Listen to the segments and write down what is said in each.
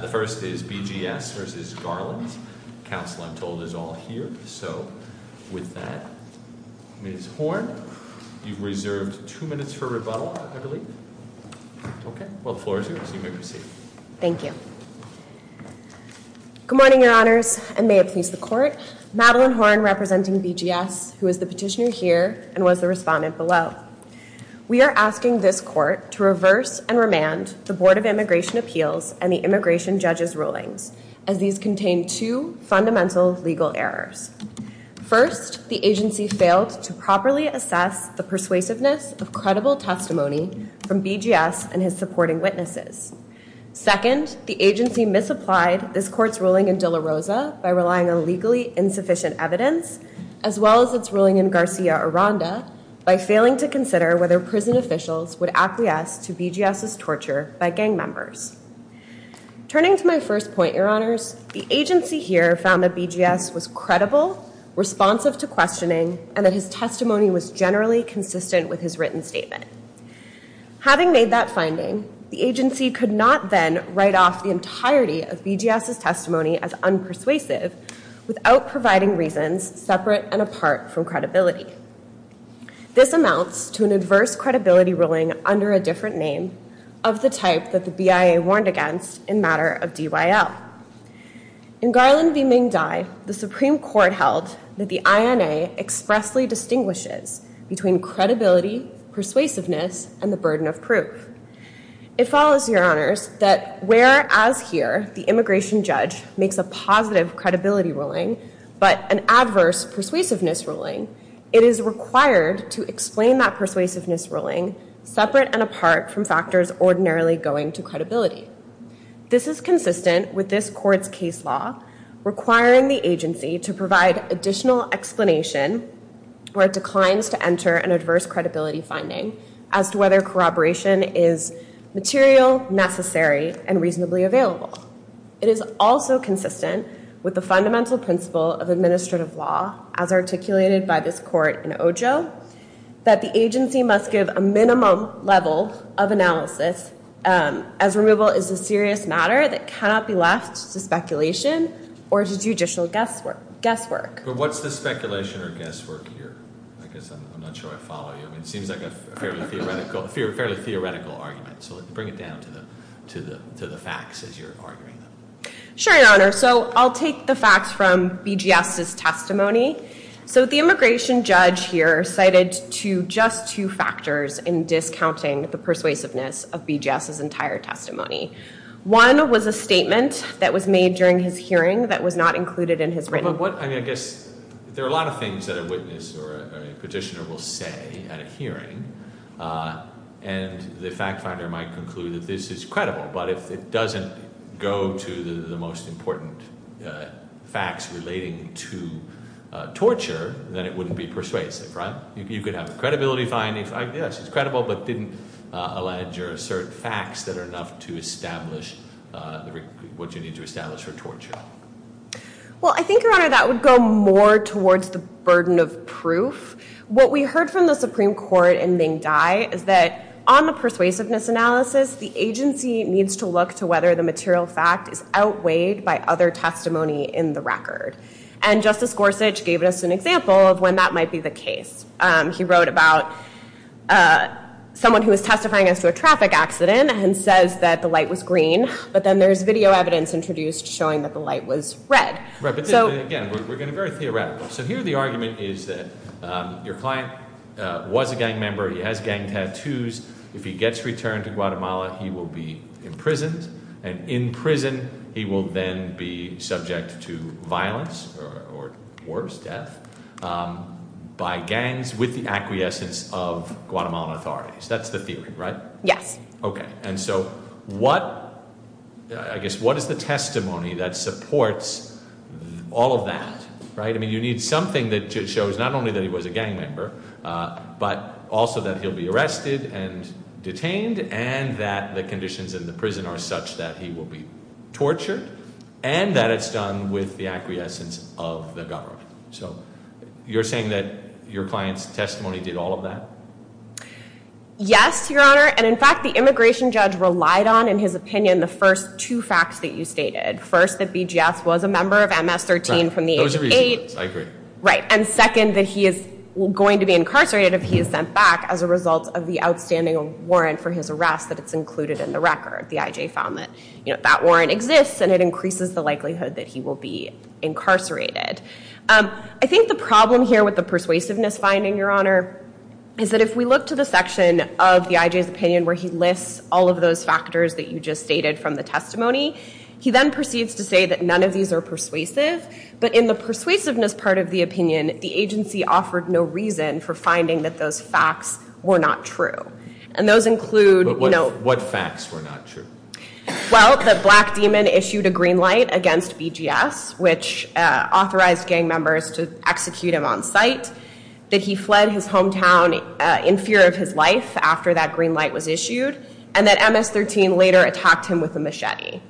The first is BGS v. Garland. Counsel, I'm told, is all here. So with that, Ms. Horne, you've reserved two minutes for rebuttal, I believe. OK, well, the floor is yours. You may proceed. Thank you. Good morning, your honors, and may it please the court. Madeline Horne, representing BGS, who is the petitioner here and was the respondent below. We are asking this court to reverse and remand the Board of Immigration Appeals and the Immigration Judges rulings, as these contain two fundamental legal errors. First, the agency failed to properly assess the persuasiveness of credible testimony from BGS and his supporting witnesses. Second, the agency misapplied this court's ruling in De La Rosa by relying on legally insufficient evidence, as well as its ruling in Garcia Aranda by failing to consider whether prison officials would acquiesce to BGS's torture by gang members. Turning to my first point, your honors, the agency here found that BGS was credible, responsive to questioning, and that his testimony was generally consistent with his written statement. Having made that finding, the agency could not then write off the entirety of BGS's testimony as unpersuasive without providing reasons separate and apart from credibility. This amounts to an adverse credibility ruling under a different name of the type that the BIA warned against in matter of DYL. In Garland v. Ming Dai, the Supreme Court held that the INA expressly distinguishes between credibility, persuasiveness, and the burden of proof. It follows, your honors, that whereas here the immigration judge makes a positive credibility ruling, but an adverse persuasiveness ruling, it is required to explain that persuasiveness ruling separate and apart from factors ordinarily going to credibility. This is consistent with this court's case law, requiring the agency to provide additional explanation where it declines to enter an adverse credibility finding as to whether corroboration is material, necessary, and reasonably available. It is also consistent with the fundamental principle of administrative law as articulated by this court in OJO, that the agency must give a minimum level of analysis as removal is a serious matter that cannot be left to speculation or to judicial guesswork. But what's the speculation or guesswork here? I guess I'm not sure I follow you. It seems like a fairly theoretical argument. So bring it down to the facts as you're arguing them. Sure, your honor. So I'll take the facts from BGS's testimony. So the immigration judge here cited just two factors in discounting the persuasiveness of BGS's entire testimony. One was a statement that was made during his hearing that was not included in his written report. But I guess there are a lot of things that a witness or a petitioner will say at a hearing. And the fact finder might conclude that this is credible. But if it doesn't go to the most important facts relating to torture, then it wouldn't be persuasive, right? You could have credibility findings. Yes, it's credible, but didn't allege or assert facts that are enough to establish what you need to establish for torture. Well, I think, your honor, that would go more towards the burden of proof. What we heard from the Supreme Court in Ming Dai is that on the persuasiveness analysis, the agency needs to look to whether the material fact is outweighed by other testimony in the record. And Justice Gorsuch gave us an example of when that might be the case. He wrote about someone who was testifying as to a traffic accident and says that the light was green. But then there's video evidence introduced showing that the light was red. Right, but again, we're going to be very theoretical. So here, the argument is that your client was a gang member. He has gang tattoos. If he gets returned to Guatemala, he will be imprisoned. And in prison, he will then be subject to violence or worse, death by gangs with the acquiescence of Guatemalan authorities. That's the theory, right? Yes. OK, and so what is the testimony that supports all of that? I mean, you need something that shows not only that he was a gang member, but also that he'll be arrested and detained, and that the conditions in the prison are such that he will be tortured, and that it's done with the acquiescence of the government. So you're saying that your client's testimony did all of that? Yes, Your Honor, and in fact, the immigration judge relied on, in his opinion, the first two facts that you stated. First, that BGS was a member of MS-13 from the age of eight. Right, those are reasonable words. I agree. Right, and second, that he is going to be incarcerated if he is sent back as a result of the outstanding warrant for his arrest that it's included in the record. The IJ found that that warrant exists, and it increases the likelihood that he will be incarcerated. I think the problem here with the persuasiveness finding, Your Honor, is that if we look to the section of the IJ's opinion where he lists all of those factors that you just stated from the testimony, he then proceeds to say that none of these are persuasive. But in the persuasiveness part of the opinion, the agency offered no reason for finding that those facts were not true. And those include, you know. But what facts were not true? Well, that Black Demon issued a green light against BGS, which authorized gang members to execute him on site, that he fled his hometown in fear of his life after that green light was issued, and that MS-13 later attacked him with a machete.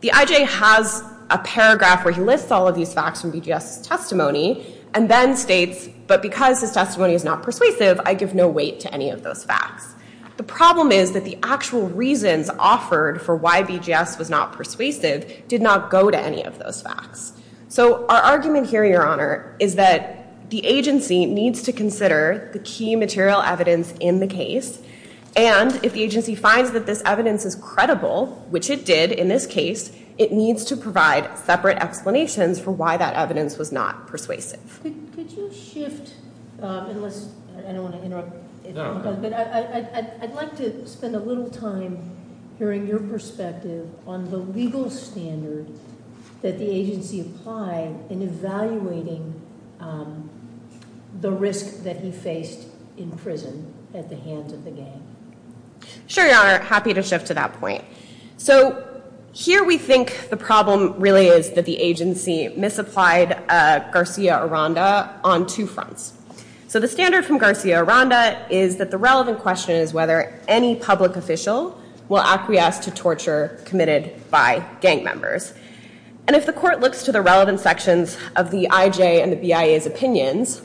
The IJ has a paragraph where he lists all of these facts from BGS's testimony, and then states, but because his testimony is not persuasive, I give no weight to any of those facts. The problem is that the actual reasons offered for why BGS was not persuasive did not go to any of those facts. So our argument here, Your Honor, is that the agency needs to consider the key material evidence in the case. And if the agency finds that this evidence is credible, which it did in this case, it needs to provide separate explanations for why that evidence was not persuasive. Could you shift? Unless I don't want to interrupt. No. But I'd like to spend a little time hearing your perspective on the legal standard that the agency applied in evaluating the risk that he faced in prison at the hands of the gang. Sure, Your Honor. Happy to shift to that point. So here we think the problem really is that the agency misapplied Garcia-Aranda on two fronts. So the standard from Garcia-Aranda is that the relevant question is whether any public official will acquiesce to torture committed by gang members. And if the court looks to the relevant sections of the IJ and the BIA's opinions,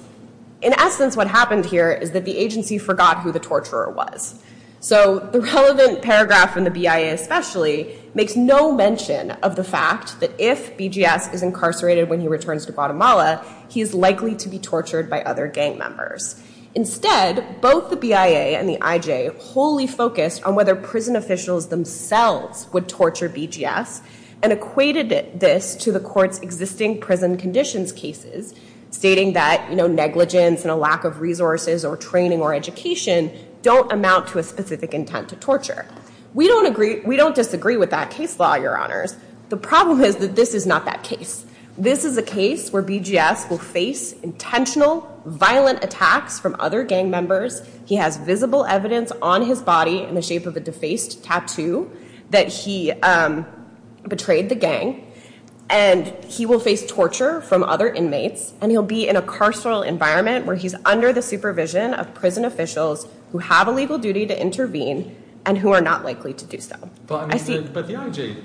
in essence, what happened here is that the agency forgot who the torturer was. So the relevant paragraph in the BIA especially makes no mention of the fact that if BGS is incarcerated when he returns to Guatemala, he is likely to be tortured by other gang members. Instead, both the BIA and the IJ wholly focused on whether prison officials themselves would torture BGS and equated this to the court's existing prison conditions cases, stating that negligence and a lack of resources or training or education don't amount to a specific intent to torture. We don't disagree with that case law, Your Honors. The problem is that this is not that case. This is a case where BGS will face intentional violent attacks from other gang members. He has visible evidence on his body in the shape of a defaced tattoo that he betrayed the gang. And he will face torture from other inmates. And he'll be in a carceral environment where he's under the supervision of prison officials who have a legal duty to intervene and who are not likely to do so. But the IJ,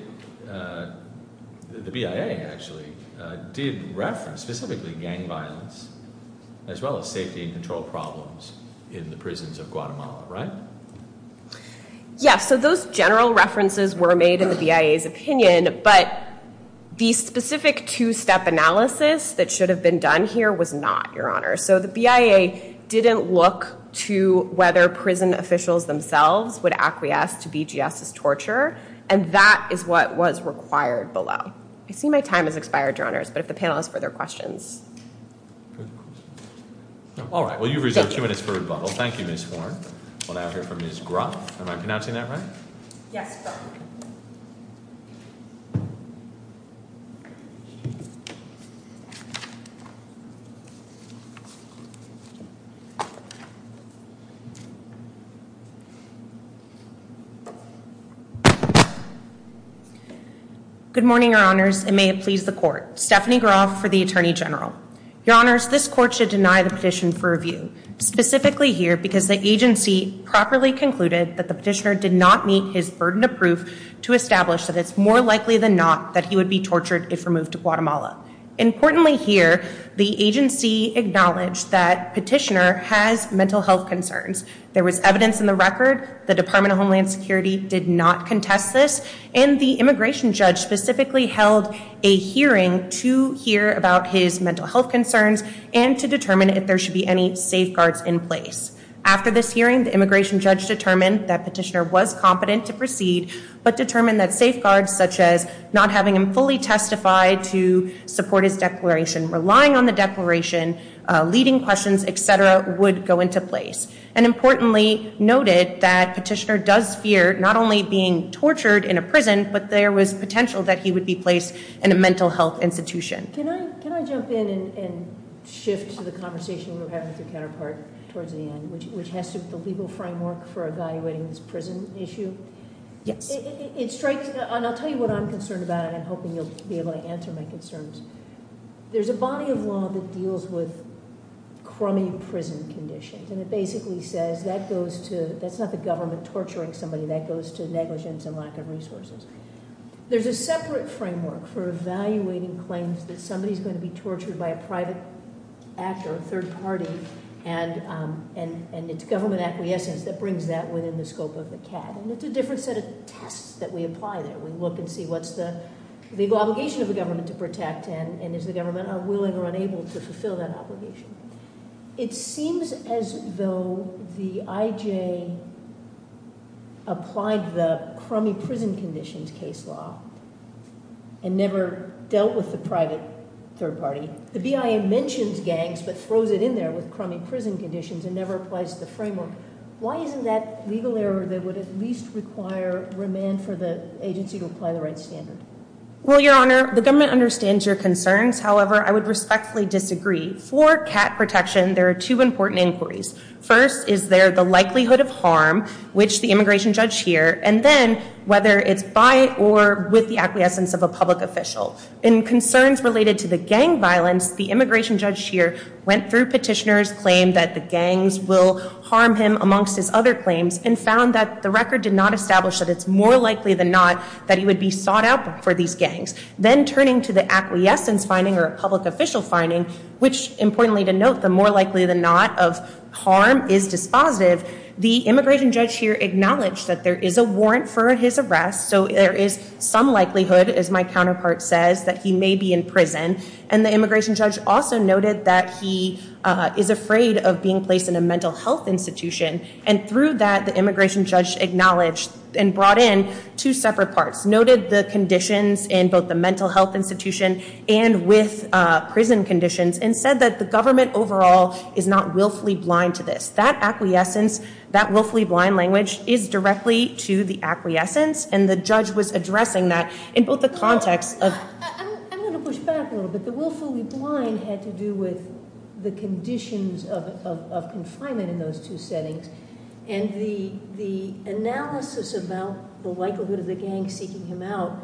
the BIA actually, did reference specifically gang violence as well as safety and control problems in the prisons of Guatemala, right? Yes, so those general references were made in the BIA's opinion. But the specific two-step analysis that should have been done here was not, Your Honor. So the BIA didn't look to whether prison officials themselves would acquiesce to BGS's torture. And that is what was required below. I see my time has expired, Your Honors. But if the panel has further questions. All right. Well, you've reserved two minutes for rebuttal. Thank you, Ms. Horne. We'll now hear from Ms. Gruff. Am I pronouncing that right? Yes, sir. Thank you. Good morning, Your Honors. And may it please the court. Stephanie Gruff for the Attorney General. Your Honors, this court should deny the petition for review. Specifically here, because the agency properly concluded that the petitioner did not meet his burden of proof to establish that it's more likely than not that he would be tortured if removed to Guatemala. Importantly here, the agency acknowledged that petitioner has mental health concerns. There was evidence in the record. The Department of Homeland Security did not contest this. And the immigration judge specifically held a hearing to hear about his mental health concerns and to determine if there should be any safeguards in place. After this hearing, the immigration judge determined that petitioner was competent to proceed, but determined that safeguards such as not having him fully testify to support his declaration, relying on the declaration, leading questions, et cetera, would go into place. And importantly, noted that petitioner does fear not only being tortured in a prison, but there was potential that he would be placed in a mental health institution. Can I jump in and shift to the conversation we were having with your counterpart towards the end, which has to do with the legal framework for evaluating this prison issue? Yes. And I'll tell you what I'm concerned about, and I'm hoping you'll be able to answer my concerns. There's a body of law that deals with crummy prison conditions. And it basically says that goes to, that's not the government torturing somebody. That goes to negligence and lack of resources. There's a separate framework for evaluating claims that somebody is going to be tortured by a private actor, a third party, and it's government acquiescence that brings that within the scope of the CAD. And it's a different set of tests that we apply there. We look and see what's the legal obligation of the government to protect and is the government willing or unable to fulfill that obligation. It seems as though the IJ applied the crummy prison conditions case law and never dealt with the private third party. The BIA mentions gangs, but throws it in there with crummy prison conditions and never applies the framework. Why isn't that legal error that would at least require remand for the agency to apply the right standard? Well, Your Honor, the government understands your concerns. However, I would respectfully disagree. For CAT protection, there are two important inquiries. First, is there the likelihood of harm, which the immigration judge here, and then whether it's by or with the acquiescence of a public official. In concerns related to the gang violence, the immigration judge here went through petitioner's claim that the gangs will harm him amongst his other claims and found that the record did not establish that it's more likely than not that he would be sought out for these gangs. Then turning to the acquiescence finding or a public official finding, which importantly to note, the more likely than not of harm is dispositive, the immigration judge here acknowledged that there is a warrant for his arrest. So there is some likelihood, as my counterpart says, that he may be in prison. And the immigration judge also noted that he is afraid of being placed in a mental health institution. And through that, the immigration judge acknowledged and brought in two separate parts. Noted the conditions in both the mental health institution and with prison conditions and said that the government overall is not willfully blind to this. That acquiescence, that willfully blind language is directly to the acquiescence. And the judge was addressing that in both the context of. I'm going to push back a little bit. The willfully blind had to do with the conditions of confinement in those two settings. And the analysis about the likelihood of the gang seeking him out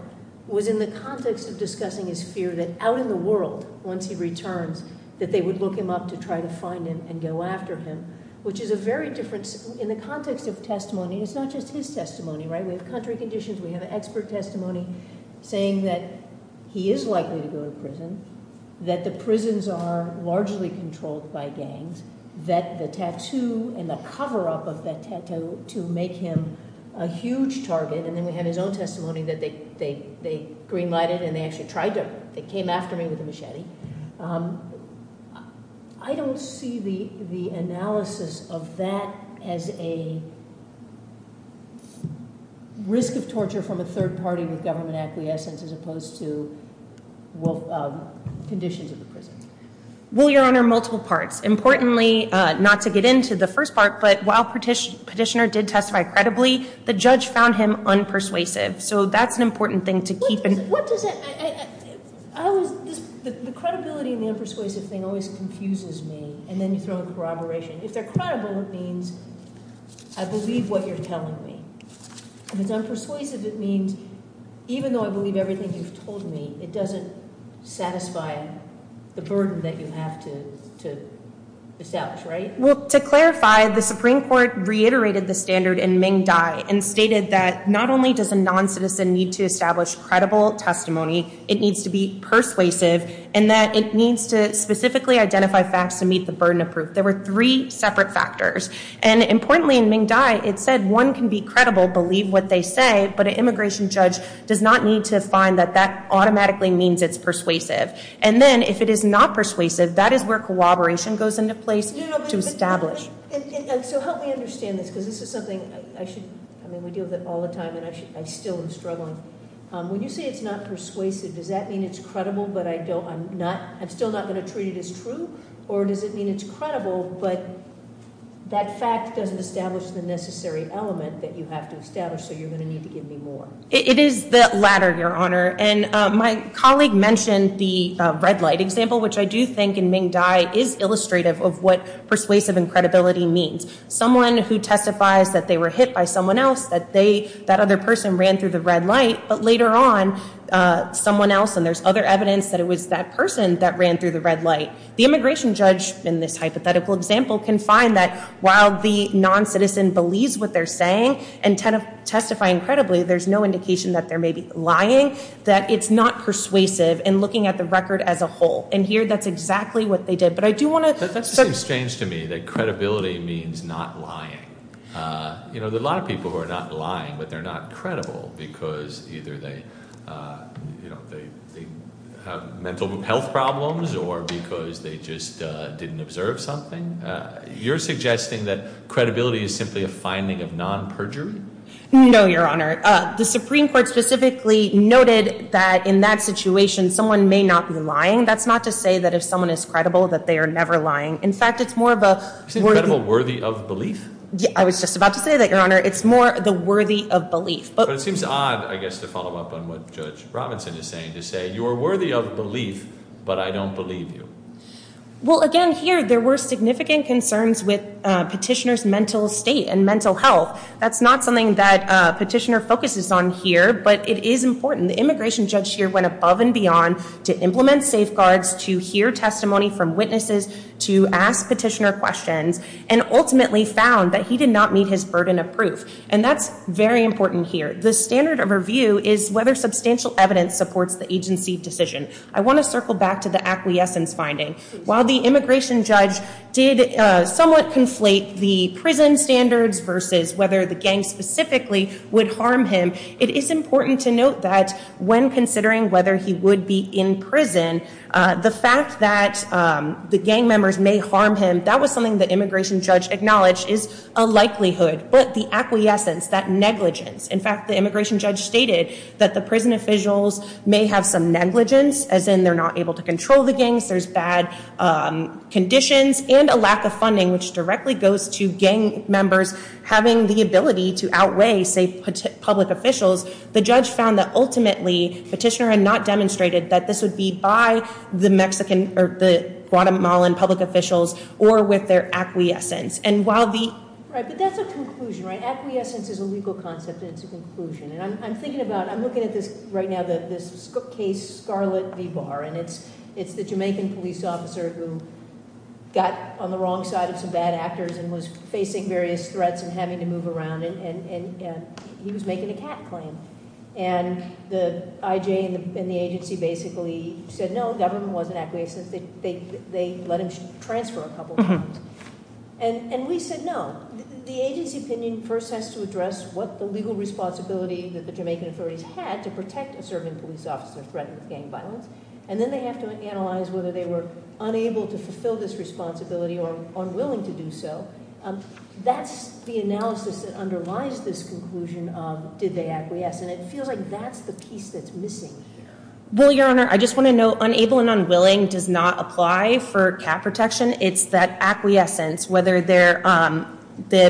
was in the context of discussing his fear that out in the world, once he returns, that they would look him up to try to find him and go after him, which is a very different. In the context of testimony, it's not just his testimony. We have contrary conditions. We have expert testimony saying that he is likely to go to prison, that the prisons are largely controlled by gangs, that the tattoo and the cover up of that tattoo to make him a huge target. And then we had his own testimony that they greenlighted and they actually tried to. They came after me with a machete. I don't see the analysis of that as a risk of torture from a third party with government acquiescence as opposed to conditions of the prison. Well, Your Honor, multiple parts. Importantly, not to get into the first part, but while Petitioner did testify credibly, the judge found him unpersuasive. So that's an important thing to keep in mind. What does that mean? The credibility and the unpersuasive thing always confuses me. And then you throw in corroboration. If they're credible, it means I believe what you're telling me. If it's unpersuasive, it means even though I believe everything you've told me, it doesn't satisfy the burden that you have to establish, right? Well, to clarify, the Supreme Court reiterated the standard in Ming Dai and stated that not only does a non-citizen need to establish credible testimony, it needs to be persuasive and that it needs to specifically identify facts to meet the burden of proof. There were three separate factors. And importantly, in Ming Dai, it said one can be credible, believe what they say, but an immigration judge does not need to find that that automatically means it's persuasive. And then if it is not persuasive, that is where corroboration goes into place to establish. So help me understand this, because this is something I should, I mean, we deal with it all the time, and I still am struggling. When you say it's not persuasive, does that mean it's credible, but I'm still not going to treat it as true? Or does it mean it's credible, but that fact doesn't establish the necessary element that you have to establish, so you're going to need to give me more? It is the latter, Your Honor. And my colleague mentioned the red light example, which I do think in Ming Dai is illustrative of what persuasive and credibility means. Someone who testifies that they were hit by someone else, that that other person ran through the red light, but later on, someone else, and there's other evidence that it was that person that ran through the red light. The immigration judge, in this hypothetical example, can find that while the non-citizen believes what they're saying and testifying credibly, there's no indication that they're maybe lying, that it's not persuasive in looking at the record as a whole. And here, that's exactly what they did. But I do want to set the record straight. That seems strange to me, that credibility means not lying. There are a lot of people who are not lying, but they're not credible, because either they have mental health problems, or because they just didn't observe something. You're suggesting that credibility is simply a finding of non-perjury? No, Your Honor. The Supreme Court specifically noted that in that situation, someone may not be lying. That's not to say that if someone is credible, that they are never lying. In fact, it's more of a worthy of belief. I was just about to say that, Your Honor. It's more the worthy of belief. But it seems odd, I guess, to follow up on what Judge Robinson is saying, to say you're worthy of belief, but I don't believe you. Well, again, here, there were significant concerns with petitioner's mental state and mental health. That's not something that a petitioner focuses on here, but it is important. The immigration judge here went above and beyond to implement safeguards, to hear testimony from witnesses, to ask petitioner questions, and ultimately found that he did not meet his burden of proof. And that's very important here. The standard of review is whether substantial evidence supports the agency decision. I want to circle back to the acquiescence finding. While the immigration judge did somewhat conflate the prison standards versus whether the gang specifically would harm him, it is important to note that when considering whether he would be in prison, the fact that the gang members may harm him, that was something the immigration judge acknowledged is a likelihood. But the acquiescence, that negligence, in fact, the immigration judge stated that the prison officials may have some negligence, as in they're not able to control the gangs, there's bad conditions, and a lack of funding, which directly goes to gang members having the ability to outweigh, say, public officials. The judge found that ultimately, petitioner had not demonstrated that this would be by the Guatemalan public officials or with their acquiescence. And while the- Right, but that's a conclusion, right? Acquiescence is a legal concept, and it's a conclusion. And I'm thinking about, I'm looking at this right now, this case, Scarlett v. Barr, and it's the Jamaican police officer who got on the wrong side of some bad actors and was facing various threats and having to move around, and he was making a cat claim. And the IJ and the agency basically said, no, government wasn't acquiescent. They let him transfer a couple times. And we said, no, the agency opinion first has to address what the legal responsibility that the Jamaican authorities had to protect a serving police officer threatened with gang violence. And then they have to analyze whether they were unable to fulfill this responsibility or unwilling to do so. That's the analysis that underlies this conclusion of, did they acquiesce? And it feels like that's the piece that's missing here. Well, Your Honor, I just want to note, unable and unwilling does not apply for cat protection. It's that acquiescence, whether the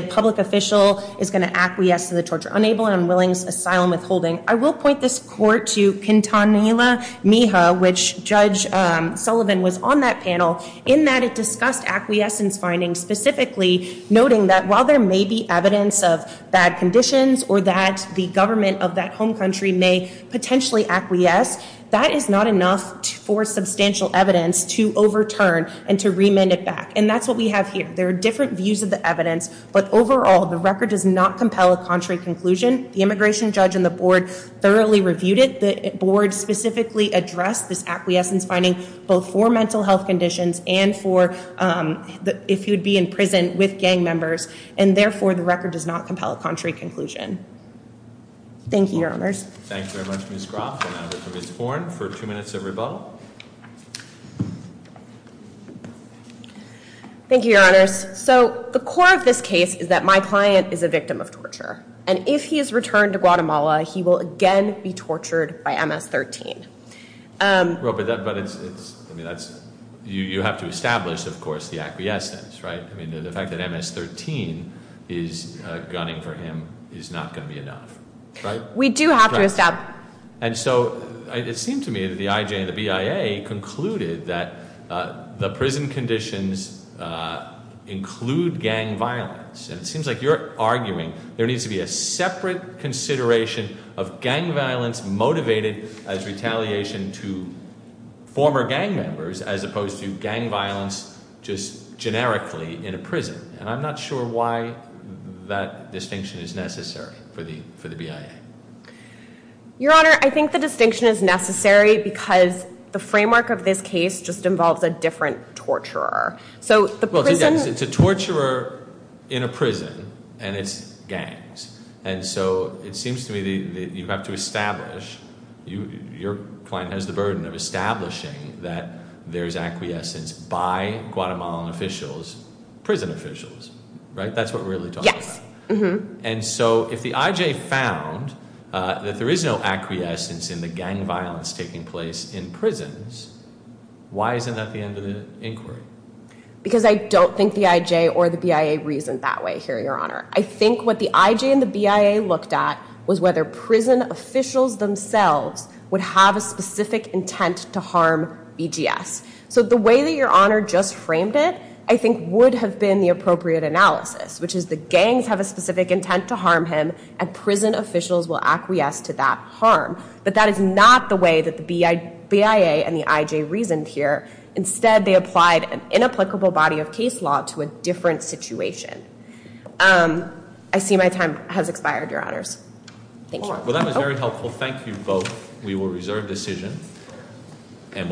public official is going to acquiesce to the torture. Unable and unwilling is asylum withholding. I will point this court to Quintanilla Miha, which Judge Sullivan was on that panel, in that it discussed acquiescence findings specifically, noting that while there may be evidence of bad conditions or that the government of that home country may potentially acquiesce, that is not enough for substantial evidence to overturn and to remand it back. And that's what we have here. There are different views of the evidence. But overall, the record does not compel a contrary conclusion. The immigration judge and the board thoroughly reviewed it. The board specifically addressed this acquiescence finding both for mental health conditions and for if you'd be in prison with gang members. And therefore, the record does not compel a contrary conclusion. Thank you, Your Honors. Thank you very much, Ms. Groff. And now we'll go to Ms. Horne for two minutes of rebuttal. Thank you, Your Honors. So the core of this case is that my client is a victim of torture. And if he is returned to Guatemala, he will again be tortured by MS-13. You have to establish, of course, the acquiescence, right? I mean, the fact that MS-13 is gunning for him is not going to be enough, right? We do have to establish. And so it seemed to me that the IJ and the BIA concluded that the prison conditions include gang violence. And it seems like you're arguing there needs to be a separate consideration of gang violence motivated as retaliation to former gang members, as opposed to gang violence just generically in a prison. And I'm not sure why that distinction is necessary for the BIA. Your Honor, I think the distinction is necessary because the framework of this case just involves a different torturer. So the prison is a torturer in a prison. And it's gangs. And so it seems to me that you have to establish, your client has the burden of establishing that there is acquiescence by Guatemalan officials, prison officials, right? That's what we're really talking about. And so if the IJ found that there is no acquiescence in the gang violence taking place in prisons, why isn't that the end of the inquiry? Because I don't think the IJ or the BIA reasoned that way here, Your Honor. I think what the IJ and the BIA looked at was whether prison officials themselves would have a specific intent to harm BGS. So the way that Your Honor just framed it, I think, would have been the appropriate analysis, which is the gangs have a specific intent to harm him, and prison officials will acquiesce to that harm. But that is not the way that the BIA and the IJ reasoned here. Instead, they applied an inapplicable body of case law to a different situation. I see my time has expired, Your Honors. Thank you. Well, that was very helpful. Thank you both. We will reserve decision. And we'll move on.